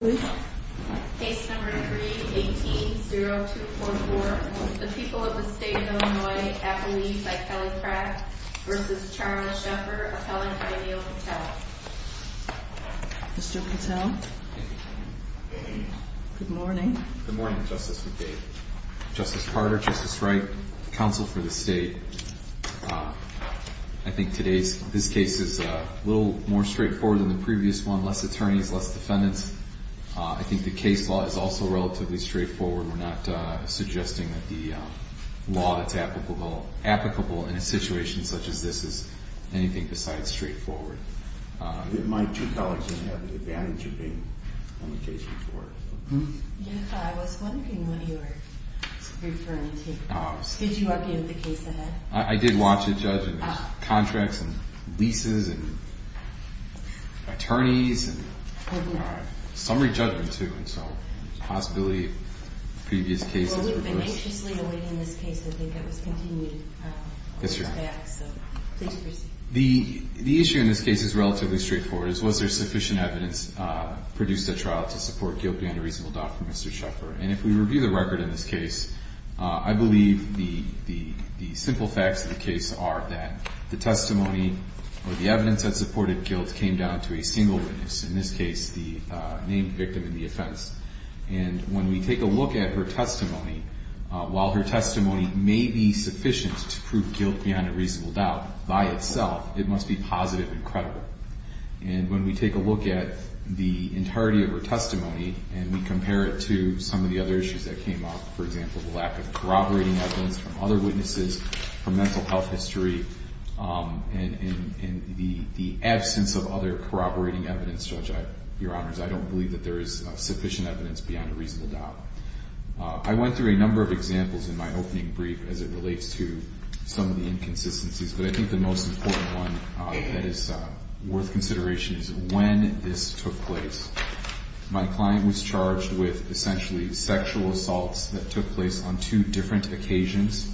Case No. 3-18-0244 The People of the State of Illinois at Belize by Kelly Pratt v. Charles Cheffer, appellant by Neal Patel Mr. Patel? Good morning. Good morning, Justice McCabe. Justice Carter, Justice Wright, Counsel for the State. I think this case is a little more straightforward than the previous one. Less attorneys, less defendants. I think the case law is also relatively straightforward. We're not suggesting that the law that's applicable in a situation such as this is anything besides straightforward. My two colleagues didn't have the advantage of being on the case before. Yes, I was wondering what you were referring to. Did you argue with the case ahead? I did watch it, Judge, and there's contracts and leases and attorneys and summary judgment, too, and so the possibility of previous cases. Well, we've been anxiously awaiting this case. I think it was continued. Yes, Your Honor. So, please proceed. The issue in this case is relatively straightforward. Was there sufficient evidence produced at trial to support guilt beyond a reasonable doubt for Mr. Cheffer? And if we review the record in this case, I believe the simple facts of the case are that the testimony or the evidence that supported guilt came down to a single witness, in this case the named victim in the offense. And when we take a look at her testimony, while her testimony may be sufficient to prove her guilt, it must be positive and credible. And when we take a look at the entirety of her testimony and we compare it to some of the other issues that came up, for example, the lack of corroborating evidence from other witnesses, from mental health history, and the absence of other corroborating evidence, Judge, Your Honors, I don't believe that there is sufficient evidence beyond a reasonable doubt. I went through a number of examples in my opening brief as it relates to some of the inconsistencies, but I think the most important one that is worth consideration is when this took place. My client was charged with essentially sexual assaults that took place on two different occasions,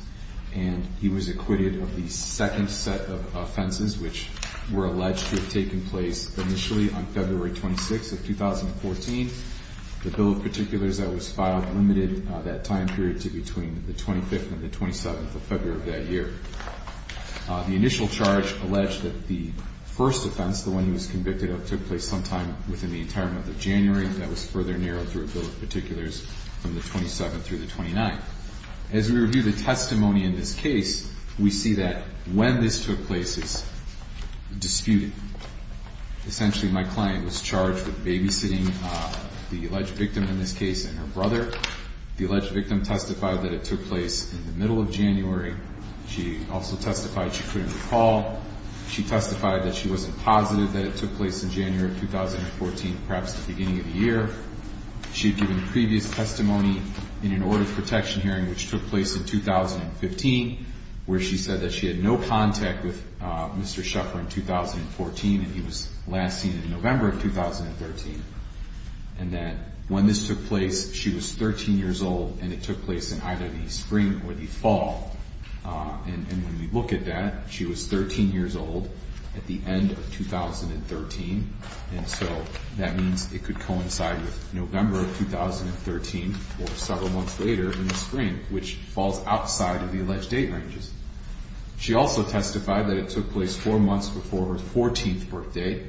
and he was acquitted of the second set of offenses, which were alleged to have taken place initially on February 26th of 2014. The bill of particulars that was filed limited that time period to between the 25th and the 27th of February of that year. The initial charge alleged that the first offense, the one he was convicted of, took place sometime within the entire month of January. That was further narrowed through a bill of particulars from the 27th through the 29th. As we review the testimony in this case, we see that when this took place is disputed. Essentially, my client was charged with babysitting the alleged victim in this case and her brother. The alleged victim testified that it took place in the middle of January. She also testified she couldn't recall. She testified that she wasn't positive that it took place in January of 2014, perhaps the beginning of the year. She had given previous testimony in an order of protection hearing, which took place in 2015, where she said that she had no contact with Mr. Sheffer in 2014 and he was last seen in November of 2013. And that when this took place, she was 13 years old and it took place in either the spring or the fall. And when we look at that, she was 13 years old at the end of 2013. And so that means it could coincide with November of 2013 or several months later than the spring, which falls outside of the alleged date ranges. She also testified that it took place four months before her 14th birthday,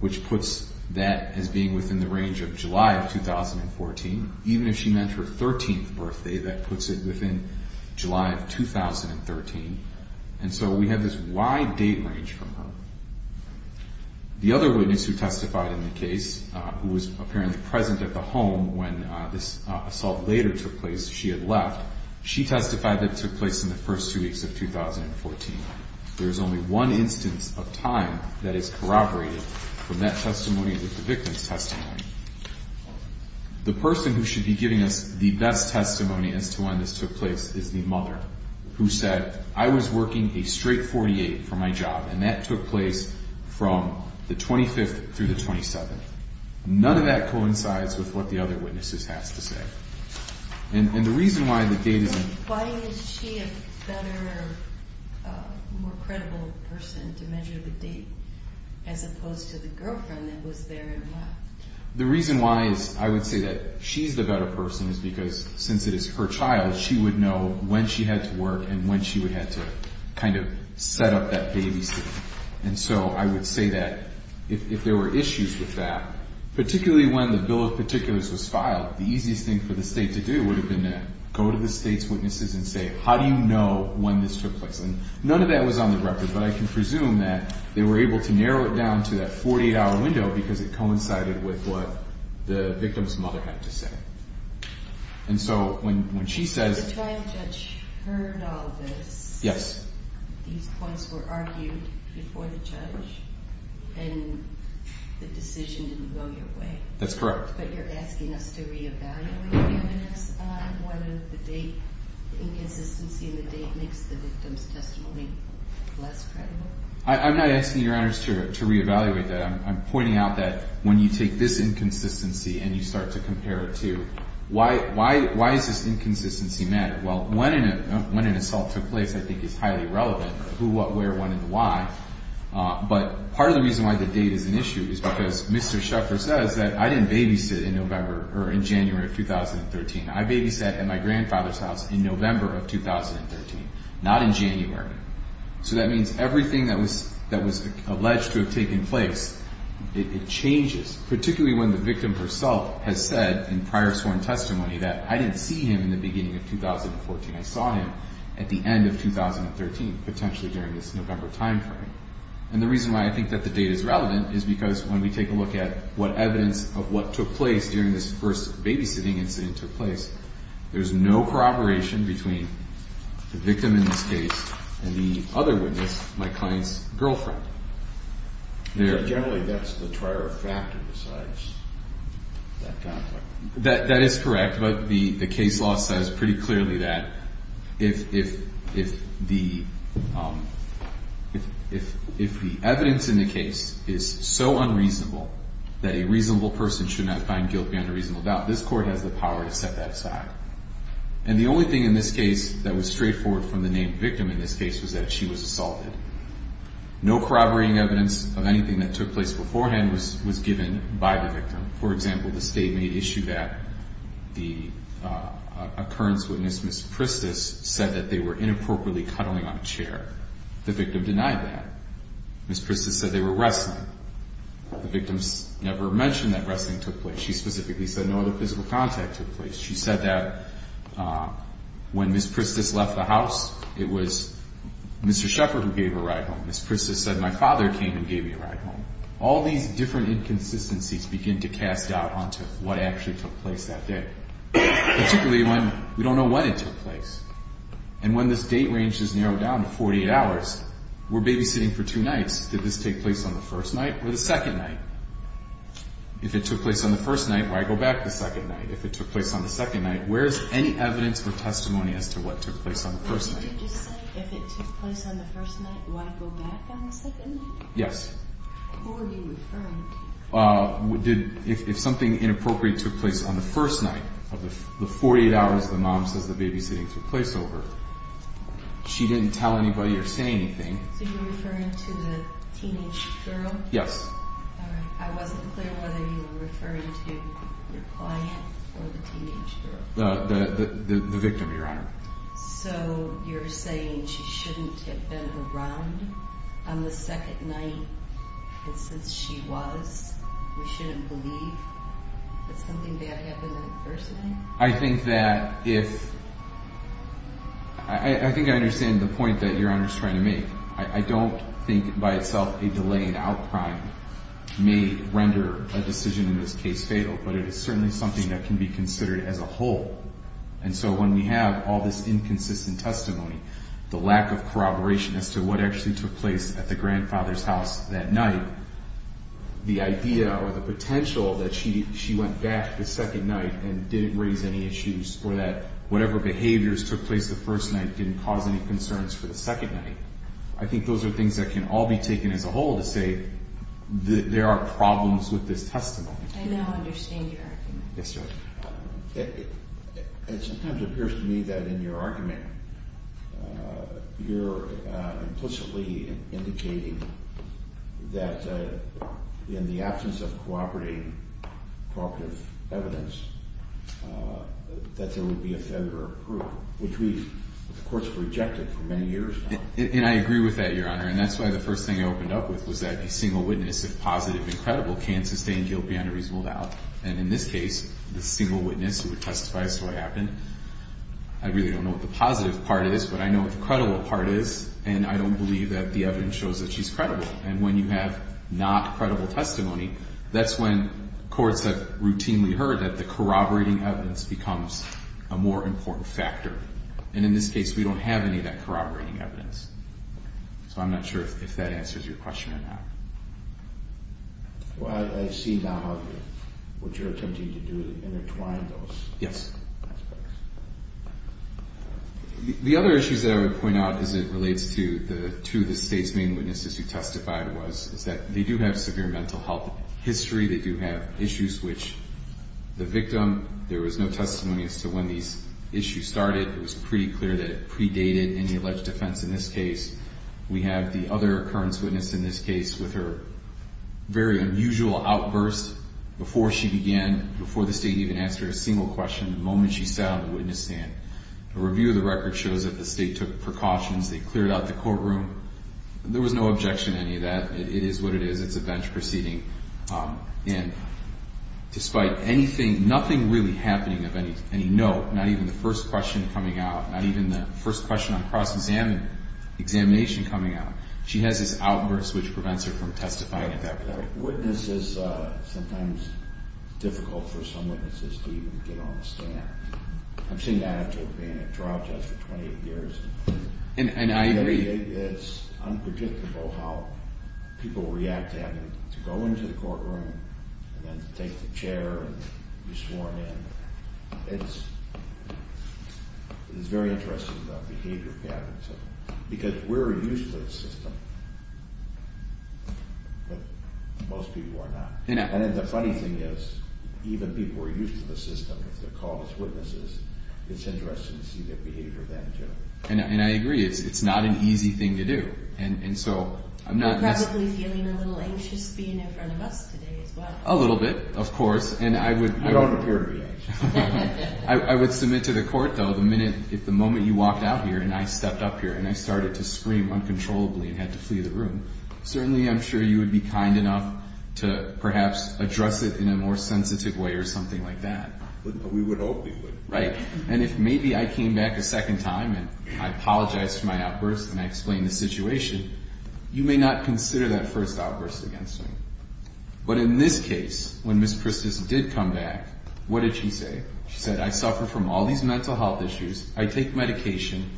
which puts that as being within the range of July of 2014. Even if she meant her 13th birthday, that puts it within July of 2013. And so we have this wide date range from her. The other witness who testified in the case, who was apparently present at the home when this assault later took place, she had left, she testified that it took place in the first two weeks of 2014. There is only one instance of time that is corroborated from that testimony with the victim's testimony. The person who should be giving us the best testimony as to when this took place is the mother, who said, I was working a straight 48 for my job, and that took place from the 25th through the 27th. None of that coincides with what the other witnesses have to say. And the reason why the date is... Why is she a better, more credible person to measure the date, as opposed to the girlfriend that was there and left? The reason why I would say that she's the better person is because, since it is her child, she would know when she had to work and when she would have to kind of set up that babysitting. And so I would say that if there were issues with that, particularly when the bill of particulars was filed, the easiest thing for the state's witnesses is to say, how do you know when this took place? And none of that was on the record, but I can presume that they were able to narrow it down to that 48-hour window because it coincided with what the victim's mother had to say. And so when she says... These points were argued before the judge, and the decision didn't go your way. That's correct. But you're asking us to re-evaluate the evidence on whether the inconsistency in the date makes the victim's testimony less credible? I'm not asking Your Honors to re-evaluate that. I'm pointing out that when you take this inconsistency and you start to compare it to... Why does this inconsistency matter? Well, when an assault took place, I think, is highly relevant. Who, what, where, when, and why. But part of the reason why the date is an issue is because Mr. Sheffer says that I didn't babysit in November or in January of 2013. I babysat at my grandfather's house in November of 2013, not in January. So that means everything that was alleged to have taken place, it changes, particularly when the victim herself has said in prior sworn testimony that I didn't see him in the beginning of 2014. I saw him at the end of 2013, potentially during this November timeframe. And the reason why I think that the date is relevant is because when we take a look at what evidence of what took place during this first babysitting incident took place, there's no corroboration between the victim in this case and the other witness, my client's girlfriend. Generally, that's the prior factor besides that conflict. That is correct, but the case law says pretty clearly that if the evidence in the case is so unreasonable that a reasonable person should not find guilt beyond a reasonable doubt, this court has the power to set that aside. And the only thing in this case that was straightforward from the named victim in this case was that she was assaulted. No corroborating evidence of anything that took place beforehand was given by the victim. For example, the state made issue that the occurrence witness, Ms. Pristis, said that they were inappropriately cuddling on a chair. The victim denied that. Ms. Pristis said they were wrestling. The victim never mentioned that wrestling took place. She specifically said no other physical contact took place. She said that when Ms. Pristis left the house, it was Mr. Shepherd who gave her a ride home. Ms. Pristis said my father came and gave me a ride home. All these different inconsistencies begin to cast doubt onto what actually took place that day, particularly when we don't know when it took place. And when this date range is narrowed down to 48 hours, we're babysitting for two nights. Did this take place on the first night or the second night? If it took place on the first night, why go back the second night? If it took place on the second night, where's any evidence or testimony as to what took place on the first night? Did you just say if it took place on the first night, why go back on the second night? Yes. Who are you referring to? If something inappropriate took place on the first night of the 48 hours the mom says the babysitting took place over, she didn't tell anybody or say anything. So you're referring to the teenage girl? Yes. I wasn't clear whether you were referring to your client or the teenage girl. The victim, Your Honor. So you're saying she shouldn't have been around on the second night since she was? We shouldn't believe that something bad happened on the first night? I think that if – I think I understand the point that Your Honor's trying to make. I don't think by itself a delayed outcry may render a decision in this case fatal, but it is certainly something that can be considered as a whole. And so when we have all this inconsistent testimony, the lack of corroboration as to what actually took place at the grandfather's house that night, the idea or the potential that she went back the second night and didn't raise any issues or that whatever behaviors took place the first night didn't cause any concerns for the second night, I think those are things that can all be taken as a whole to say there are problems with this testimony. I now understand your argument. Yes, Your Honor. It sometimes appears to me that in your argument you're implicitly indicating that in the absence of cooperative evidence that there would be a federal approval, which the courts have rejected for many years now. And I agree with that, Your Honor. And that's why the first thing I opened up with was that a single witness, if positive and credible, can't sustain guilt beyond a reasonable doubt. And in this case, the single witness who testifies to what happened, I really don't know what the positive part is, but I know what the credible part is, and I don't believe that the evidence shows that she's credible. And when you have not credible testimony, that's when courts have routinely heard that the corroborating evidence becomes a more important factor. And in this case, we don't have any of that corroborating evidence. So I'm not sure if that answers your question or not. Well, I see now what you're attempting to do is intertwine those aspects. Yes. The other issues that I would point out as it relates to the two of the State's main witnesses who testified was that they do have severe mental health history. They do have issues which the victim, there was no testimony as to when these issues started. It was pretty clear that it predated any alleged offense in this case. We have the other occurrence witness in this case with her very unusual outburst before she began, before the State even asked her a single question, the moment she sat on the witness stand. A review of the record shows that the State took precautions. They cleared out the courtroom. There was no objection to any of that. It is what it is. It's a bench proceeding. And despite anything, nothing really happening of any note, not even the first question coming out, not even the first question on cross-examination coming out. She has this outburst which prevents her from testifying. A witness is sometimes difficult for some witnesses to even get on the stand. I've seen the attitude of being a trial judge for 28 years. And I agree. It's unpredictable how people react to having to go into the courtroom and then to take the chair and be sworn in. It's very interesting, the behavior pattern. Because we're used to this system, but most people are not. And the funny thing is, even people who are used to the system, if they're called as witnesses, it's interesting to see their behavior then too. And I agree. It's not an easy thing to do. You're probably feeling a little anxious being in front of us today as well. A little bit, of course. You don't appear to be anxious. I would submit to the court, though, the moment you walked out here and I stepped up here and I started to scream uncontrollably and had to flee the room, certainly I'm sure you would be kind enough to perhaps address it in a more sensitive way or something like that. We would hope we would. Right. And if maybe I came back a second time and I apologized for my outburst and I explained the situation, you may not consider that first outburst against me. But in this case, when Ms. Christus did come back, what did she say? She said, I suffer from all these mental health issues. I take medication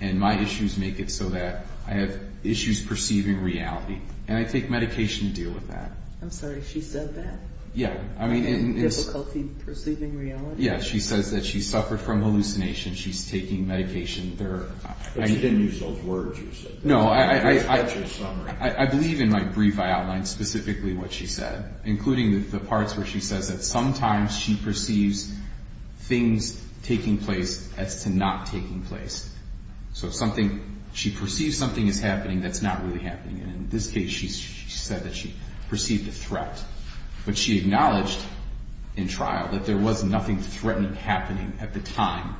and my issues make it so that I have issues perceiving reality. And I take medication to deal with that. I'm sorry. She said that? Yeah. Difficulty perceiving reality? Yeah. She says that she suffered from hallucinations. She's taking medication. But she didn't use those words you said. No. I believe in my brief I outlined specifically what she said, including the parts where she says that sometimes she perceives things taking place as to not taking place. So if she perceives something is happening that's not really happening. And in this case, she said that she perceived a threat. But she acknowledged in trial that there was nothing threatening happening at the time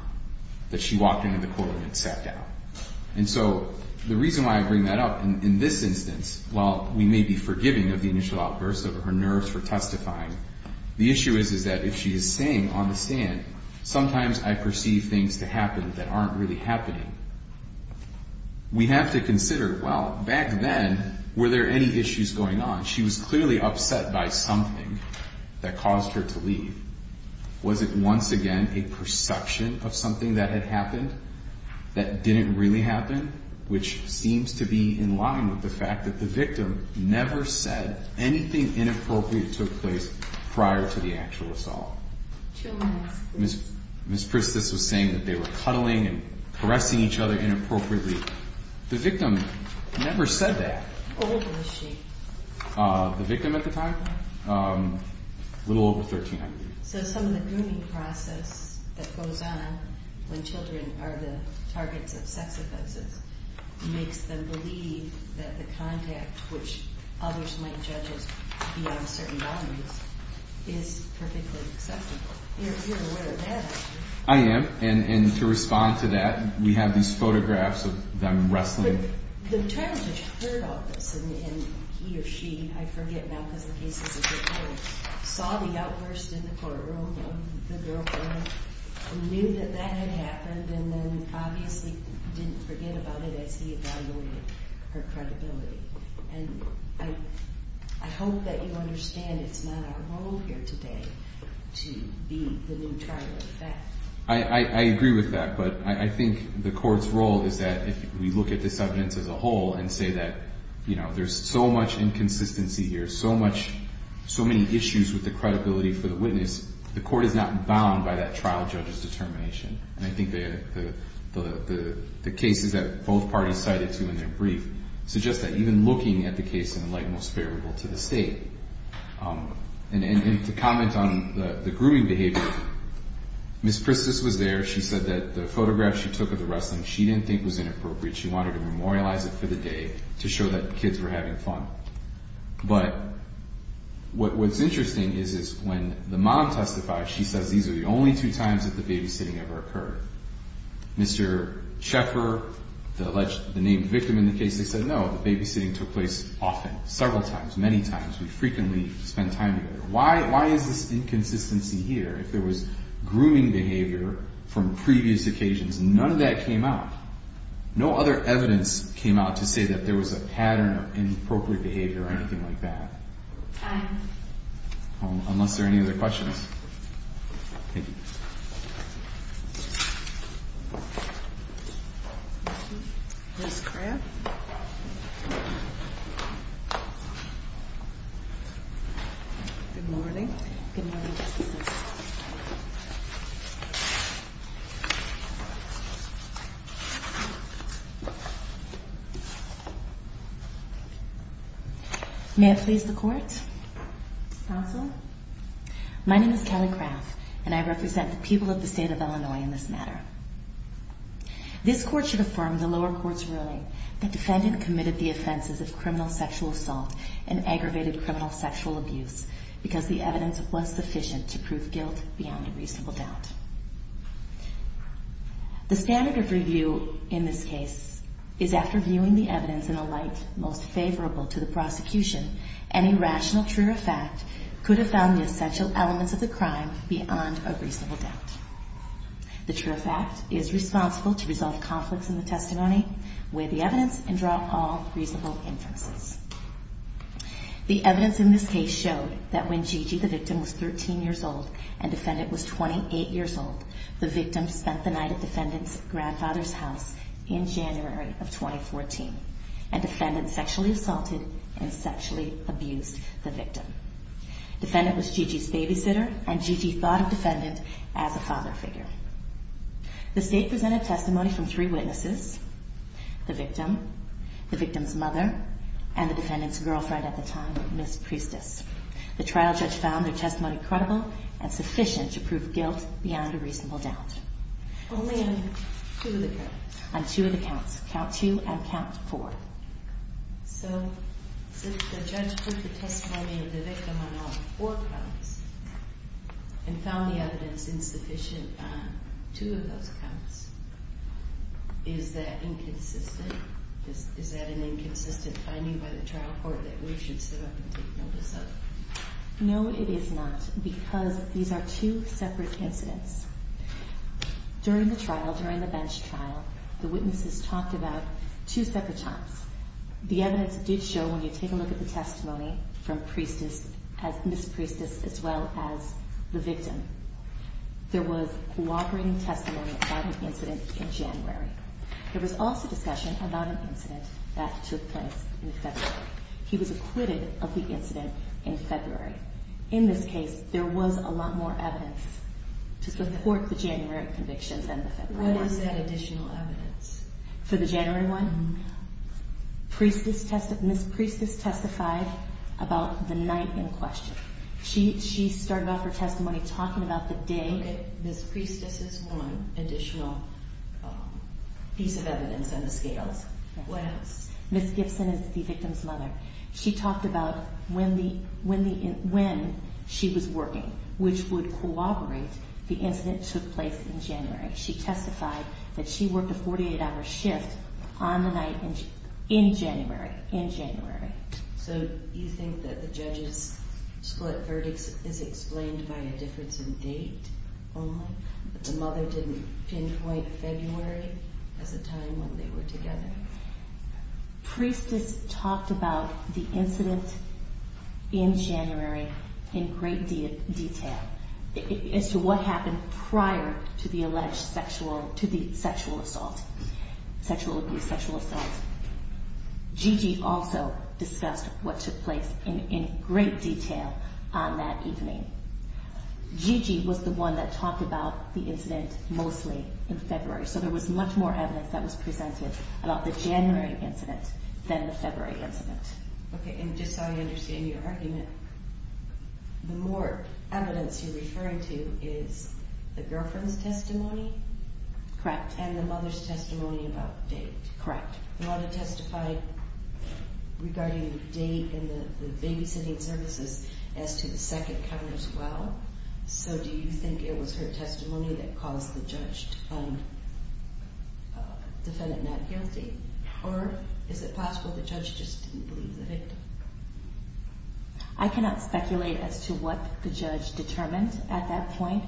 that she walked into the courtroom and sat down. And so the reason why I bring that up in this instance, while we may be forgiving of the initial outbursts over her nerves for testifying, the issue is that if she is saying on the stand, sometimes I perceive things to happen that aren't really happening, we have to consider, well, back then, were there any issues going on? She was clearly upset by something that caused her to leave. Was it once again a perception of something that had happened that didn't really happen? Which seems to be in line with the fact that the victim never said anything inappropriate took place prior to the actual assault. Ms. Priestess was saying that they were cuddling and caressing each other inappropriately. The victim never said that. How old was she? The victim at the time? A little over 1300. So some of the grooming process that goes on when children are the targets of sex offenses makes them believe that the contact, which others might judge as beyond certain boundaries, is perfectly acceptable. You're aware of that, aren't you? I am. And to respond to that, we have these photographs of them wrestling. The attorney just heard all this, and he or she, I forget now because the case is a different one, saw the outburst in the courtroom of the girlfriend, knew that that had happened, and then obviously didn't forget about it as he evaluated her credibility. And I hope that you understand it's not our role here today to be the new target of theft. I agree with that, but I think the court's role is that if we look at this evidence as a whole and say that there's so much inconsistency here, so many issues with the credibility for the witness, the court is not bound by that trial judge's determination. And I think the cases that both parties cited to in their brief suggest that even looking at the case in the light most favorable to the State, and to comment on the grooming behavior, Ms. Pristis was there. She said that the photograph she took of the wrestling she didn't think was inappropriate. She wanted to memorialize it for the day to show that the kids were having fun. But what's interesting is when the mom testified, she says these are the only two times that the babysitting ever occurred. Mr. Checker, the named victim in the case, they said no, the babysitting took place often, several times, many times. We frequently spend time together. Why is this inconsistency here? If there was grooming behavior from previous occasions, none of that came out. No other evidence came out to say that there was a pattern of inappropriate behavior or anything like that. Unless there are any other questions. Thank you. Ms. Craft. Good morning. Good morning, Justice Ginsburg. May I please the court? Counsel. My name is Kelly Craft, and I represent the people of the state of Illinois in this matter. This court should affirm the lower court's ruling that the defendant committed the offenses of criminal sexual assault and aggravated criminal sexual abuse because the evidence was sufficient to prove guilt beyond a reasonable doubt. The standard of review in this case is after viewing the evidence in a light most favorable to the prosecution, any rational truer fact could have found the essential elements of the crime beyond a reasonable doubt. The truer fact is responsible to resolve conflicts in the testimony, weigh the evidence, and draw all reasonable inferences. The evidence in this case showed that when Gigi, the victim, was 13 years old and the defendant was 28 years old, the victim spent the night at the defendant's grandfather's house in January of 2014, and the defendant sexually assaulted and sexually abused the victim. The defendant was Gigi's babysitter, and Gigi thought of the defendant as a father figure. The state presented testimony from three witnesses, the victim, the victim's mother, and the defendant's girlfriend at the time, Ms. Priestess. The trial judge found their testimony credible and sufficient to prove guilt beyond a reasonable doubt. Only on two of the counts? On two of the counts, count two and count four. So, since the judge put the testimony of the victim on all four counts and found the evidence insufficient on two of those counts, is that inconsistent? Is that an inconsistent finding by the trial court that we should sit up and take notice of? No, it is not, because these are two separate incidents. During the trial, during the bench trial, the witnesses talked about two separate times. The evidence did show, when you take a look at the testimony from Ms. Priestess as well as the victim, there was cooperating testimony about an incident in January. There was also discussion about an incident that took place in February. He was acquitted of the incident in February. In this case, there was a lot more evidence to support the January conviction than the February one. What is that additional evidence? For the January one, Ms. Priestess testified about the night in question. She started off her testimony talking about the day. Ms. Priestess is one additional piece of evidence on the scales. What else? Ms. Gibson is the victim's mother. She talked about when she was working, which would corroborate the incident that took place in January. She testified that she worked a 48-hour shift on the night in January, in January. Okay. So you think that the judge's split verdict is explained by a difference in date only, that the mother didn't pinpoint February as a time when they were together? Priestess talked about the incident in January in great detail, as to what happened prior to the alleged sexual assault, sexual abuse, sexual assault. Gigi also discussed what took place in great detail on that evening. Gigi was the one that talked about the incident mostly in February, so there was much more evidence that was presented about the January incident than the February incident. Okay, and just so I understand your argument, the more evidence you're referring to is the girlfriend's testimony? Correct. And the mother's testimony about date? Correct. The mother testified regarding the date and the babysitting services as to the second cover as well, so do you think it was her testimony that caused the judge to find the defendant not guilty, or is it possible the judge just didn't believe the victim? I cannot speculate as to what the judge determined at that point.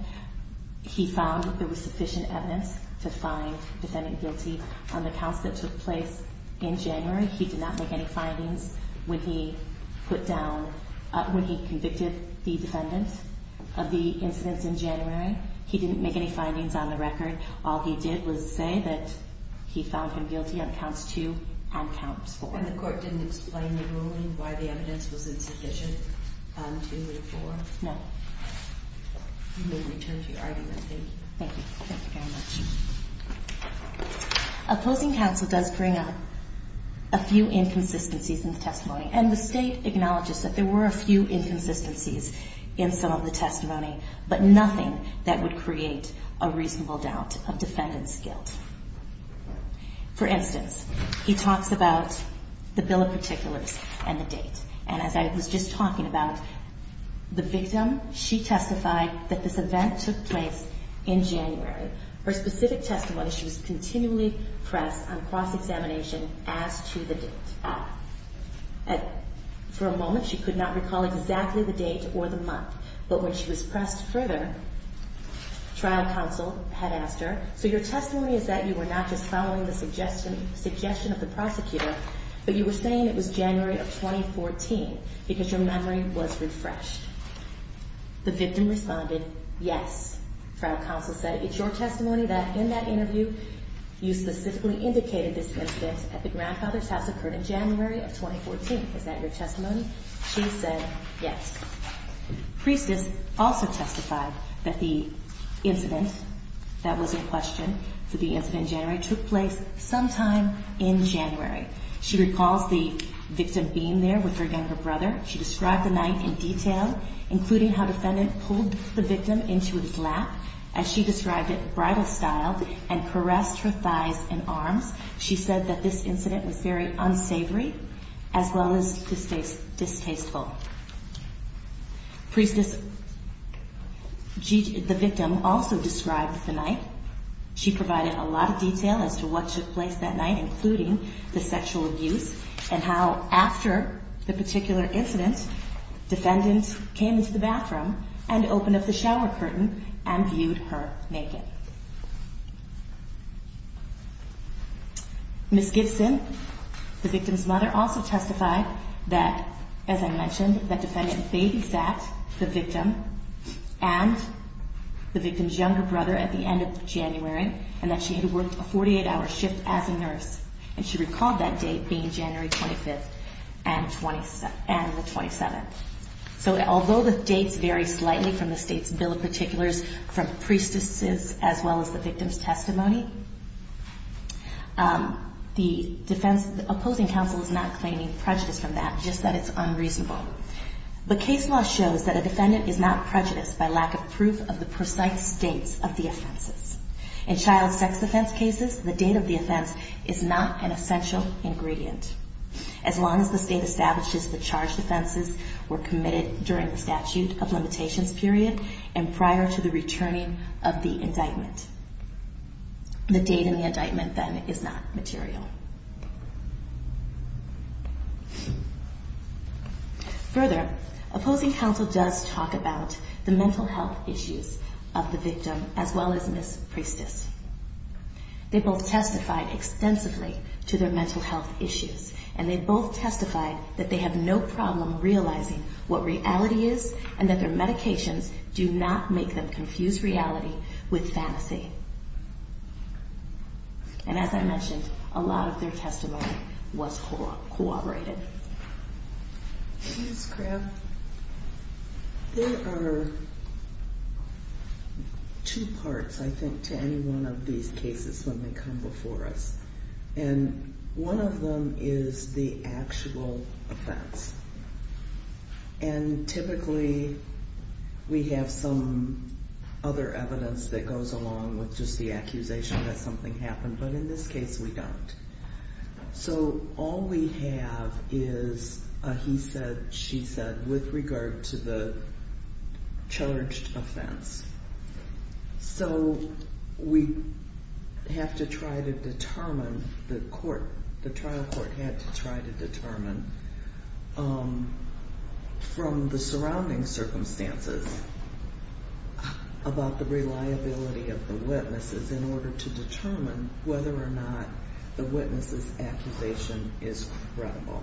He found there was sufficient evidence to find the defendant guilty on the counts that took place in January. He did not make any findings when he convicted the defendant of the incidents in January. He didn't make any findings on the record. All he did was say that he found him guilty on counts two and counts four. And the court didn't explain the ruling, why the evidence was insufficient on two and four? No. You may return to your argument. Thank you. Thank you very much. Opposing counsel does bring up a few inconsistencies in the testimony, and the State acknowledges that there were a few inconsistencies in some of the testimony, but nothing that would create a reasonable doubt of defendant's guilt. For instance, he talks about the bill of particulars and the date, and as I was just talking about, the victim, she testified that this event took place in January. Her specific testimony, she was continually pressed on cross-examination as to the date. For a moment, she could not recall exactly the date or the month, but when she was pressed further, trial counsel had asked her, so your testimony is that you were not just following the suggestion of the prosecutor, but you were saying it was January of 2014 because your memory was refreshed. The victim responded, yes. Trial counsel said, it's your testimony that in that interview, you specifically indicated this incident at the grandfather's house occurred in January of 2014. Is that your testimony? She said, yes. Priestess also testified that the incident that was in question, the incident in January, took place sometime in January. She recalls the victim being there with her younger brother. She described the night in detail, including how defendant pulled the victim into his lap, as she described it, bridal style, and caressed her thighs and arms. She said that this incident was very unsavory as well as distasteful. Priestess, the victim, also described the night. She provided a lot of detail as to what took place that night, including the sexual abuse and how after the particular incident, defendant came into the bathroom and opened up the shower curtain and viewed her naked. Ms. Gibson, the victim's mother, also testified that, as I mentioned, that defendant babysat the victim and the victim's younger brother at the end of January and that she had worked a 48-hour shift as a nurse. And she recalled that date being January 25th and the 27th. So although the dates vary slightly from the state's bill of particulars, from priestess' as well as the victim's testimony, the opposing counsel is not claiming prejudice from that, just that it's unreasonable. But case law shows that a defendant is not prejudiced by lack of proof of the precise dates of the offenses. In child sex offense cases, the date of the offense is not an essential ingredient. As long as the state establishes the charged offenses were committed during the statute of limitations period and prior to the returning of the indictment, the date in the indictment then is not material. Further, opposing counsel does talk about the mental health issues of the victim as well as Ms. Priestess. They both testified extensively to their mental health issues, and they both testified that they have no problem realizing what reality is and that their medications do not make them confuse reality with fantasy. And as I mentioned, a lot of their testimony was corroborated. Ms. Craft, there are two parts, I think, to any one of these cases when they come before us. And one of them is the actual offense. And typically we have some other evidence that goes along with just the accusation that something happened, but in this case we don't. So all we have is a he said, she said with regard to the charged offense. So we have to try to determine, the court, the trial court had to try to determine from the surrounding circumstances about the reliability of the witnesses in order to determine whether or not the witness's accusation is credible.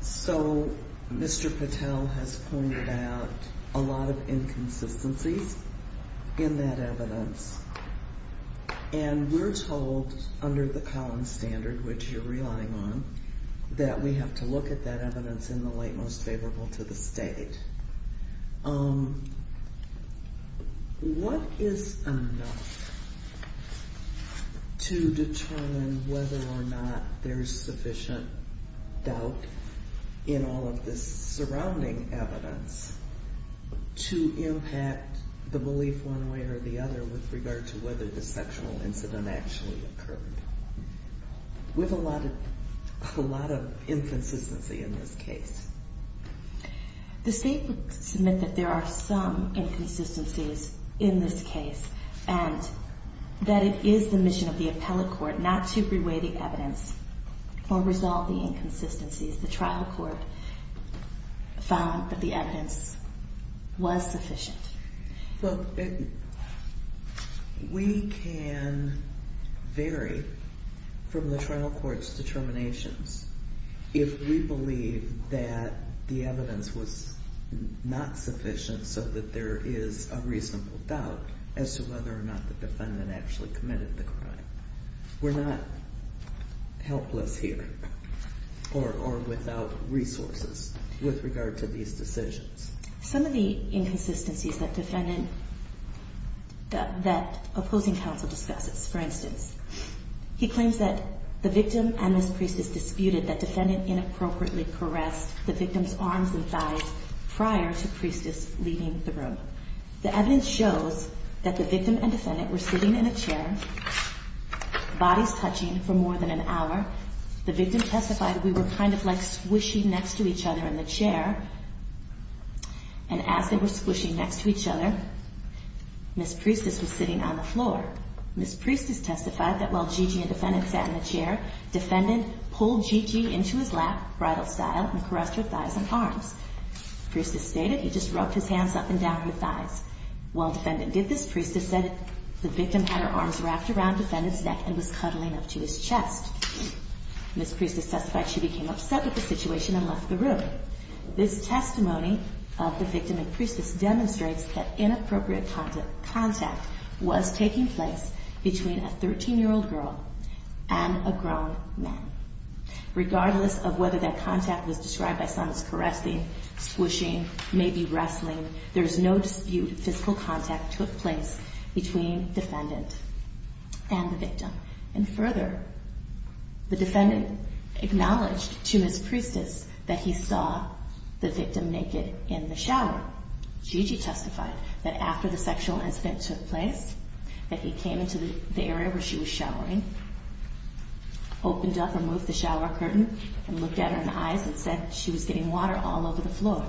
So Mr. Patel has pointed out a lot of inconsistencies in that evidence. And we're told under the Collins Standard, which you're relying on, that we have to look at that evidence in the light most favorable to the state. What is enough to determine whether or not there's sufficient doubt in all of this surrounding evidence to impact the belief one way or the other with regard to whether the sexual incident actually occurred? We have a lot of inconsistency in this case. The state would submit that there are some inconsistencies in this case and that it is the mission of the appellate court not to reweigh the evidence or resolve the inconsistencies. The trial court found that the evidence was sufficient. Look, we can vary from the trial court's determinations if we believe that the evidence was not sufficient so that there is a reasonable doubt as to whether or not the defendant actually committed the crime. We're not helpless here or without resources with regard to these decisions. Some of the inconsistencies that defendant, that opposing counsel discusses, for instance, he claims that the victim and this priestess disputed that defendant inappropriately caressed the victim's arms and thighs prior to priestess leaving the room. The evidence shows that the victim and defendant were sitting in a chair, bodies touching for more than an hour. The victim testified that we were kind of like squishing next to each other in the chair and as they were squishing next to each other, this priestess was sitting on the floor. This priestess testified that while Gigi and defendant sat in the chair, defendant pulled Gigi into his lap, bridal style, and caressed her thighs and arms. Priestess stated he just rubbed his hands up and down her thighs. While defendant did this, priestess said the victim had her arms wrapped around defendant's neck and was cuddling up to his chest. This priestess testified she became upset with the situation and left the room. This testimony of the victim and priestess demonstrates that inappropriate contact was taking place between a 13-year-old girl and a grown man. Regardless of whether that contact was described by someone as caressing, squishing, maybe wrestling, there is no dispute physical contact took place between defendant and the victim. And further, the defendant acknowledged to his priestess that he saw the victim naked in the shower. Gigi testified that after the sexual incident took place, that he came into the area where she was showering, opened up, removed the shower curtain, and looked at her in the eyes and said she was getting water all over the floor.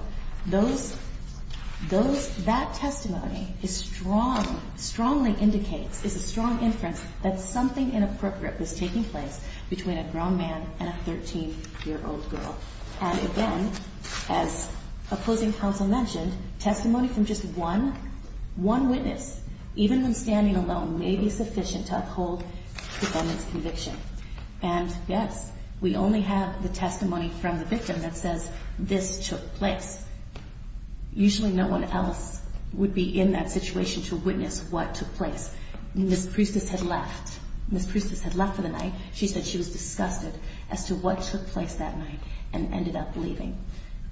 That testimony strongly indicates, is a strong inference, that something inappropriate was taking place between a grown man and a 13-year-old girl. And again, as opposing counsel mentioned, testimony from just one witness, even when standing alone, may be sufficient to uphold the defendant's conviction. And yes, we only have the testimony from the victim that says this took place. Usually no one else would be in that situation to witness what took place. Ms. Priestess had left. Ms. Priestess had left for the night. She said she was disgusted as to what took place that night and ended up leaving.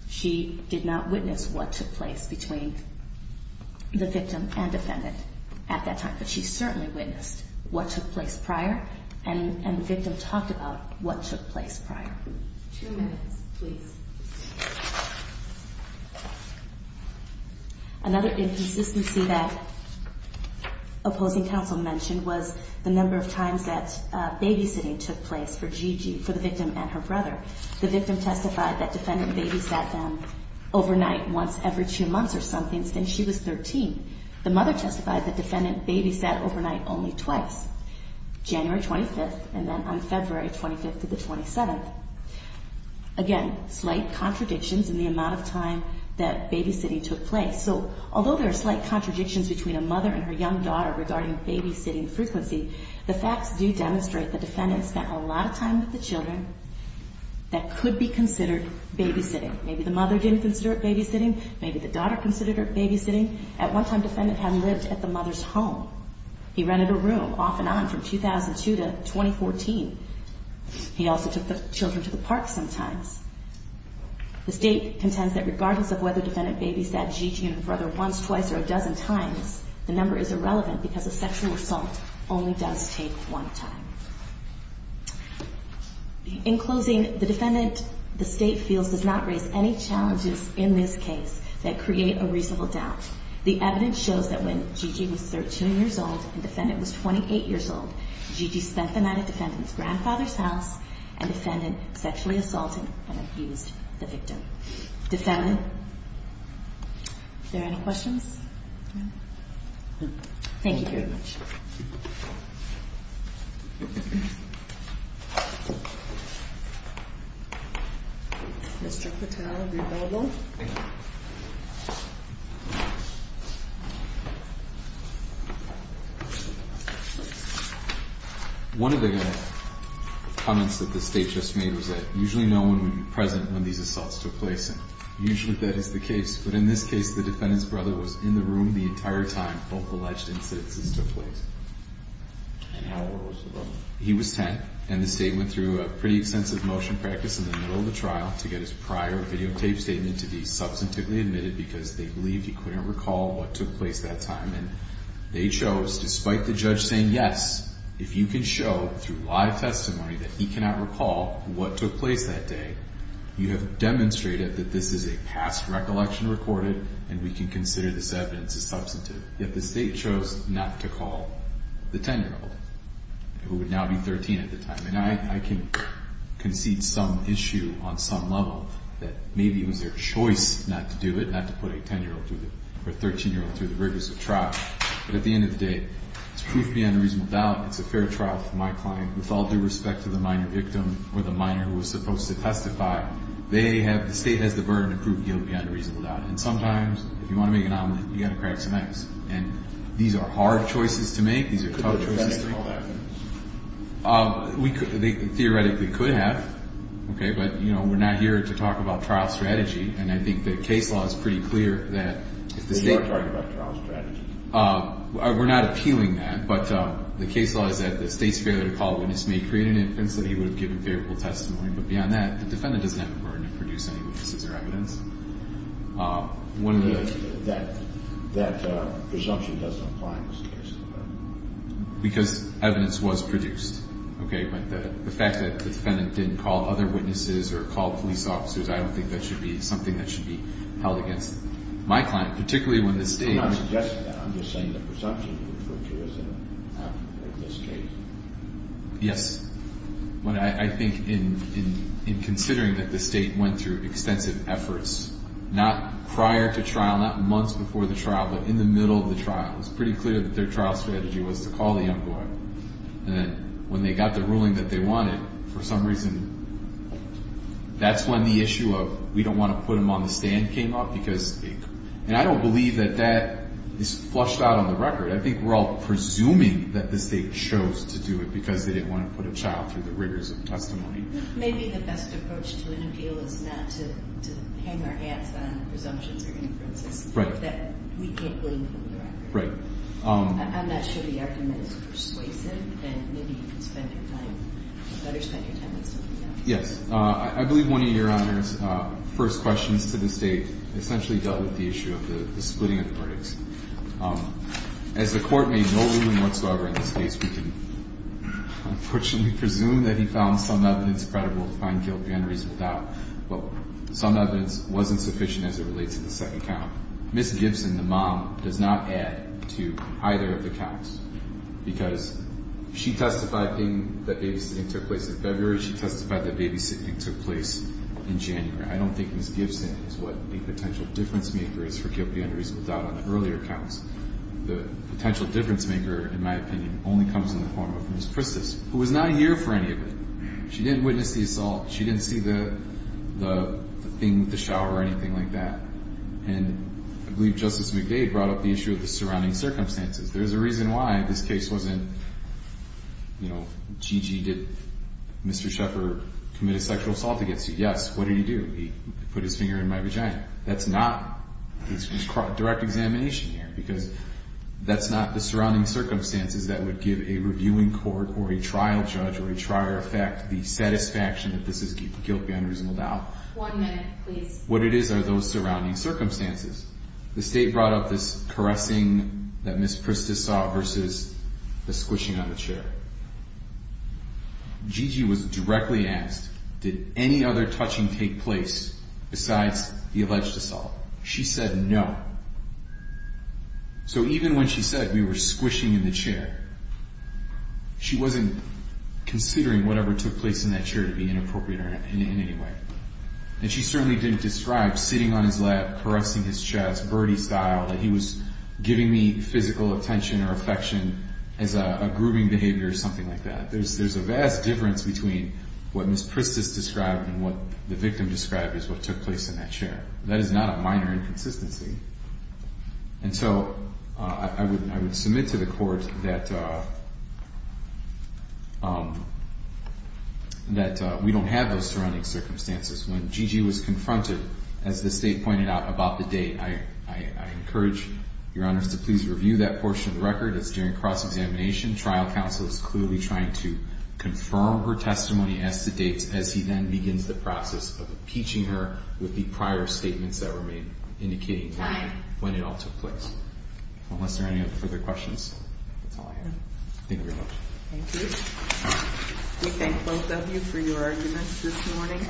She did not witness what took place between the victim and defendant at that time, but she certainly witnessed what took place prior and the victim talked about what took place prior. Two minutes, please. Another inconsistency that opposing counsel mentioned was the number of times that babysitting took place for Gigi, for the victim and her brother. The victim testified that defendant babysat them overnight once every two months or something since she was 13. The mother testified that defendant babysat overnight only twice, January 25th and then on February 25th of the 27th. Again, slight contradictions in the amount of time that babysitting took place. So although there are slight contradictions between a mother and her young daughter regarding babysitting frequency, the facts do demonstrate the defendant spent a lot of time with the children that could be considered babysitting. Maybe the mother didn't consider it babysitting. Maybe the daughter considered it babysitting. At one time, defendant had lived at the mother's home. He rented a room off and on from 2002 to 2014. He also took the children to the park sometimes. The State contends that regardless of whether defendant babysat Gigi and her brother once, twice or a dozen times, the number is irrelevant because a sexual assault only does take one time. In closing, the defendant, the State feels, does not raise any challenges in this case that create a reasonable doubt. The evidence shows that when Gigi was 13 years old and defendant was 28 years old, Gigi spent the night at defendant's grandfather's house and defendant sexually assaulted and abused the victim. Is there any questions? Thank you very much. Mr. Patel, are you available? One of the comments that the State just made was that usually no one would be present when these assaults took place and usually that is the case, but in this case, the defendant's brother was in the room the entire time both alleged incidents took place. He was 10 and the State went through a pretty extensive motion practice in the middle of the trial to get his prior videotape statement to be substantively admitted because they believed he couldn't recall what took place that time. They chose, despite the judge saying yes, if you can show through live testimony that he cannot recall what took place that day, you have demonstrated that this is a past recollection recorded and we can consider this evidence as substantive. Yet the State chose not to call the 10-year-old who would now be 13 at the time. And I can concede some issue on some level that maybe it was their choice not to do it, not to put a 10-year-old or 13-year-old through the rigors of trial, but at the end of the day, it's proof beyond a reasonable doubt. It's a fair trial for my client with all due respect to the minor victim or the minor who was supposed to testify. They have, the State has the burden of proof beyond a reasonable doubt. And sometimes if you want to make an omelette, you've got to crack some eggs. And these are hard choices to make. These are tough choices to make. We could, they theoretically could have. Okay. But, you know, we're not here to talk about trial strategy. And I think the case law is pretty clear that if the State. We are talking about trial strategy. We're not appealing that. But the case law is that the State's failure to call a witness may create an inference that he would have given favorable testimony. But beyond that, the defendant doesn't have the burden to produce any witnesses or evidence. That presumption doesn't apply in this case. Because evidence was produced. Okay. But the fact that the defendant didn't call other witnesses or call police officers, I don't think that should be something that should be held against my client, particularly when the State. I'm not suggesting that. I'm just saying the presumption is not in this case. Yes. But I think in considering that the State went through extensive efforts, not prior to trial, not months before the trial, but in the middle of the trial, it was pretty clear that their trial strategy was to call the young boy. And then when they got the ruling that they wanted, for some reason, that's when the issue of we don't want to put him on the stand came up. Because, and I don't believe that that is flushed out on the record. I think we're all presuming that the State chose to do it because they didn't want to put a child through the rigors of testimony. Maybe the best approach to an appeal is not to hang our hats on presumptions or inferences. Right. That we can't blame them for the record. Right. I'm not sure the argument is persuasive. And maybe you can spend your time, better spend your time with somebody else. Yes. I believe one of Your Honor's first questions to the State essentially dealt with the issue of the splitting of the verdicts. As the Court made no ruling whatsoever in this case, we can unfortunately presume that he found some evidence credible to find guilt and unreasonable doubt. But some evidence wasn't sufficient as it relates to the second count. Ms. Gibson, the mom, does not add to either of the counts. Because she testified that babysitting took place in February. She testified that babysitting took place in January. I don't think Ms. Gibson is what a potential difference maker is for guilt and unreasonable doubt on the earlier counts. The potential difference maker, in my opinion, only comes in the form of Ms. Christos, who was not here for any of it. She didn't witness the assault. She didn't see the thing with the shower or anything like that. And I believe Justice McDade brought up the issue of the surrounding circumstances. There's a reason why this case wasn't, you know, Gigi, did Mr. Sheffer commit a sexual assault against you? Yes. What did he do? He put his finger in my vagina. That's not direct examination here. Because that's not the surrounding circumstances that would give a reviewing court or a trial judge or a trial effect the satisfaction that this is guilt and unreasonable doubt. One minute, please. What it is are those surrounding circumstances. The State brought up this caressing that Ms. Christos saw versus the squishing on the chair. Gigi was directly asked, did any other touching take place besides the alleged assault? She said no. So even when she said we were squishing in the chair, she wasn't considering whatever took place in that chair to be inappropriate in any way. And she certainly didn't describe sitting on his lap, caressing his chest, birdie style, that he was giving me physical attention or affection as a grooming behavior or something like that. There's a vast difference between what Ms. Christos described and what the victim described as what took place in that chair. That is not a minor inconsistency. And so I would submit to the Court that we don't have those surrounding circumstances. When Gigi was confronted, as the State pointed out about the date, I encourage Your Honors to please review that portion of the record. It's during cross-examination. Trial counsel is clearly trying to confirm her testimony as to date, as he then begins the process of impeaching her with the prior statements that were made, indicating when it all took place. Unless there are any other further questions, that's all I have. Thank you very much. Thank you. We thank both of you for your arguments this morning.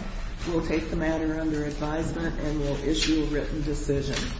We'll take the matter under advisement and we'll issue a written decision.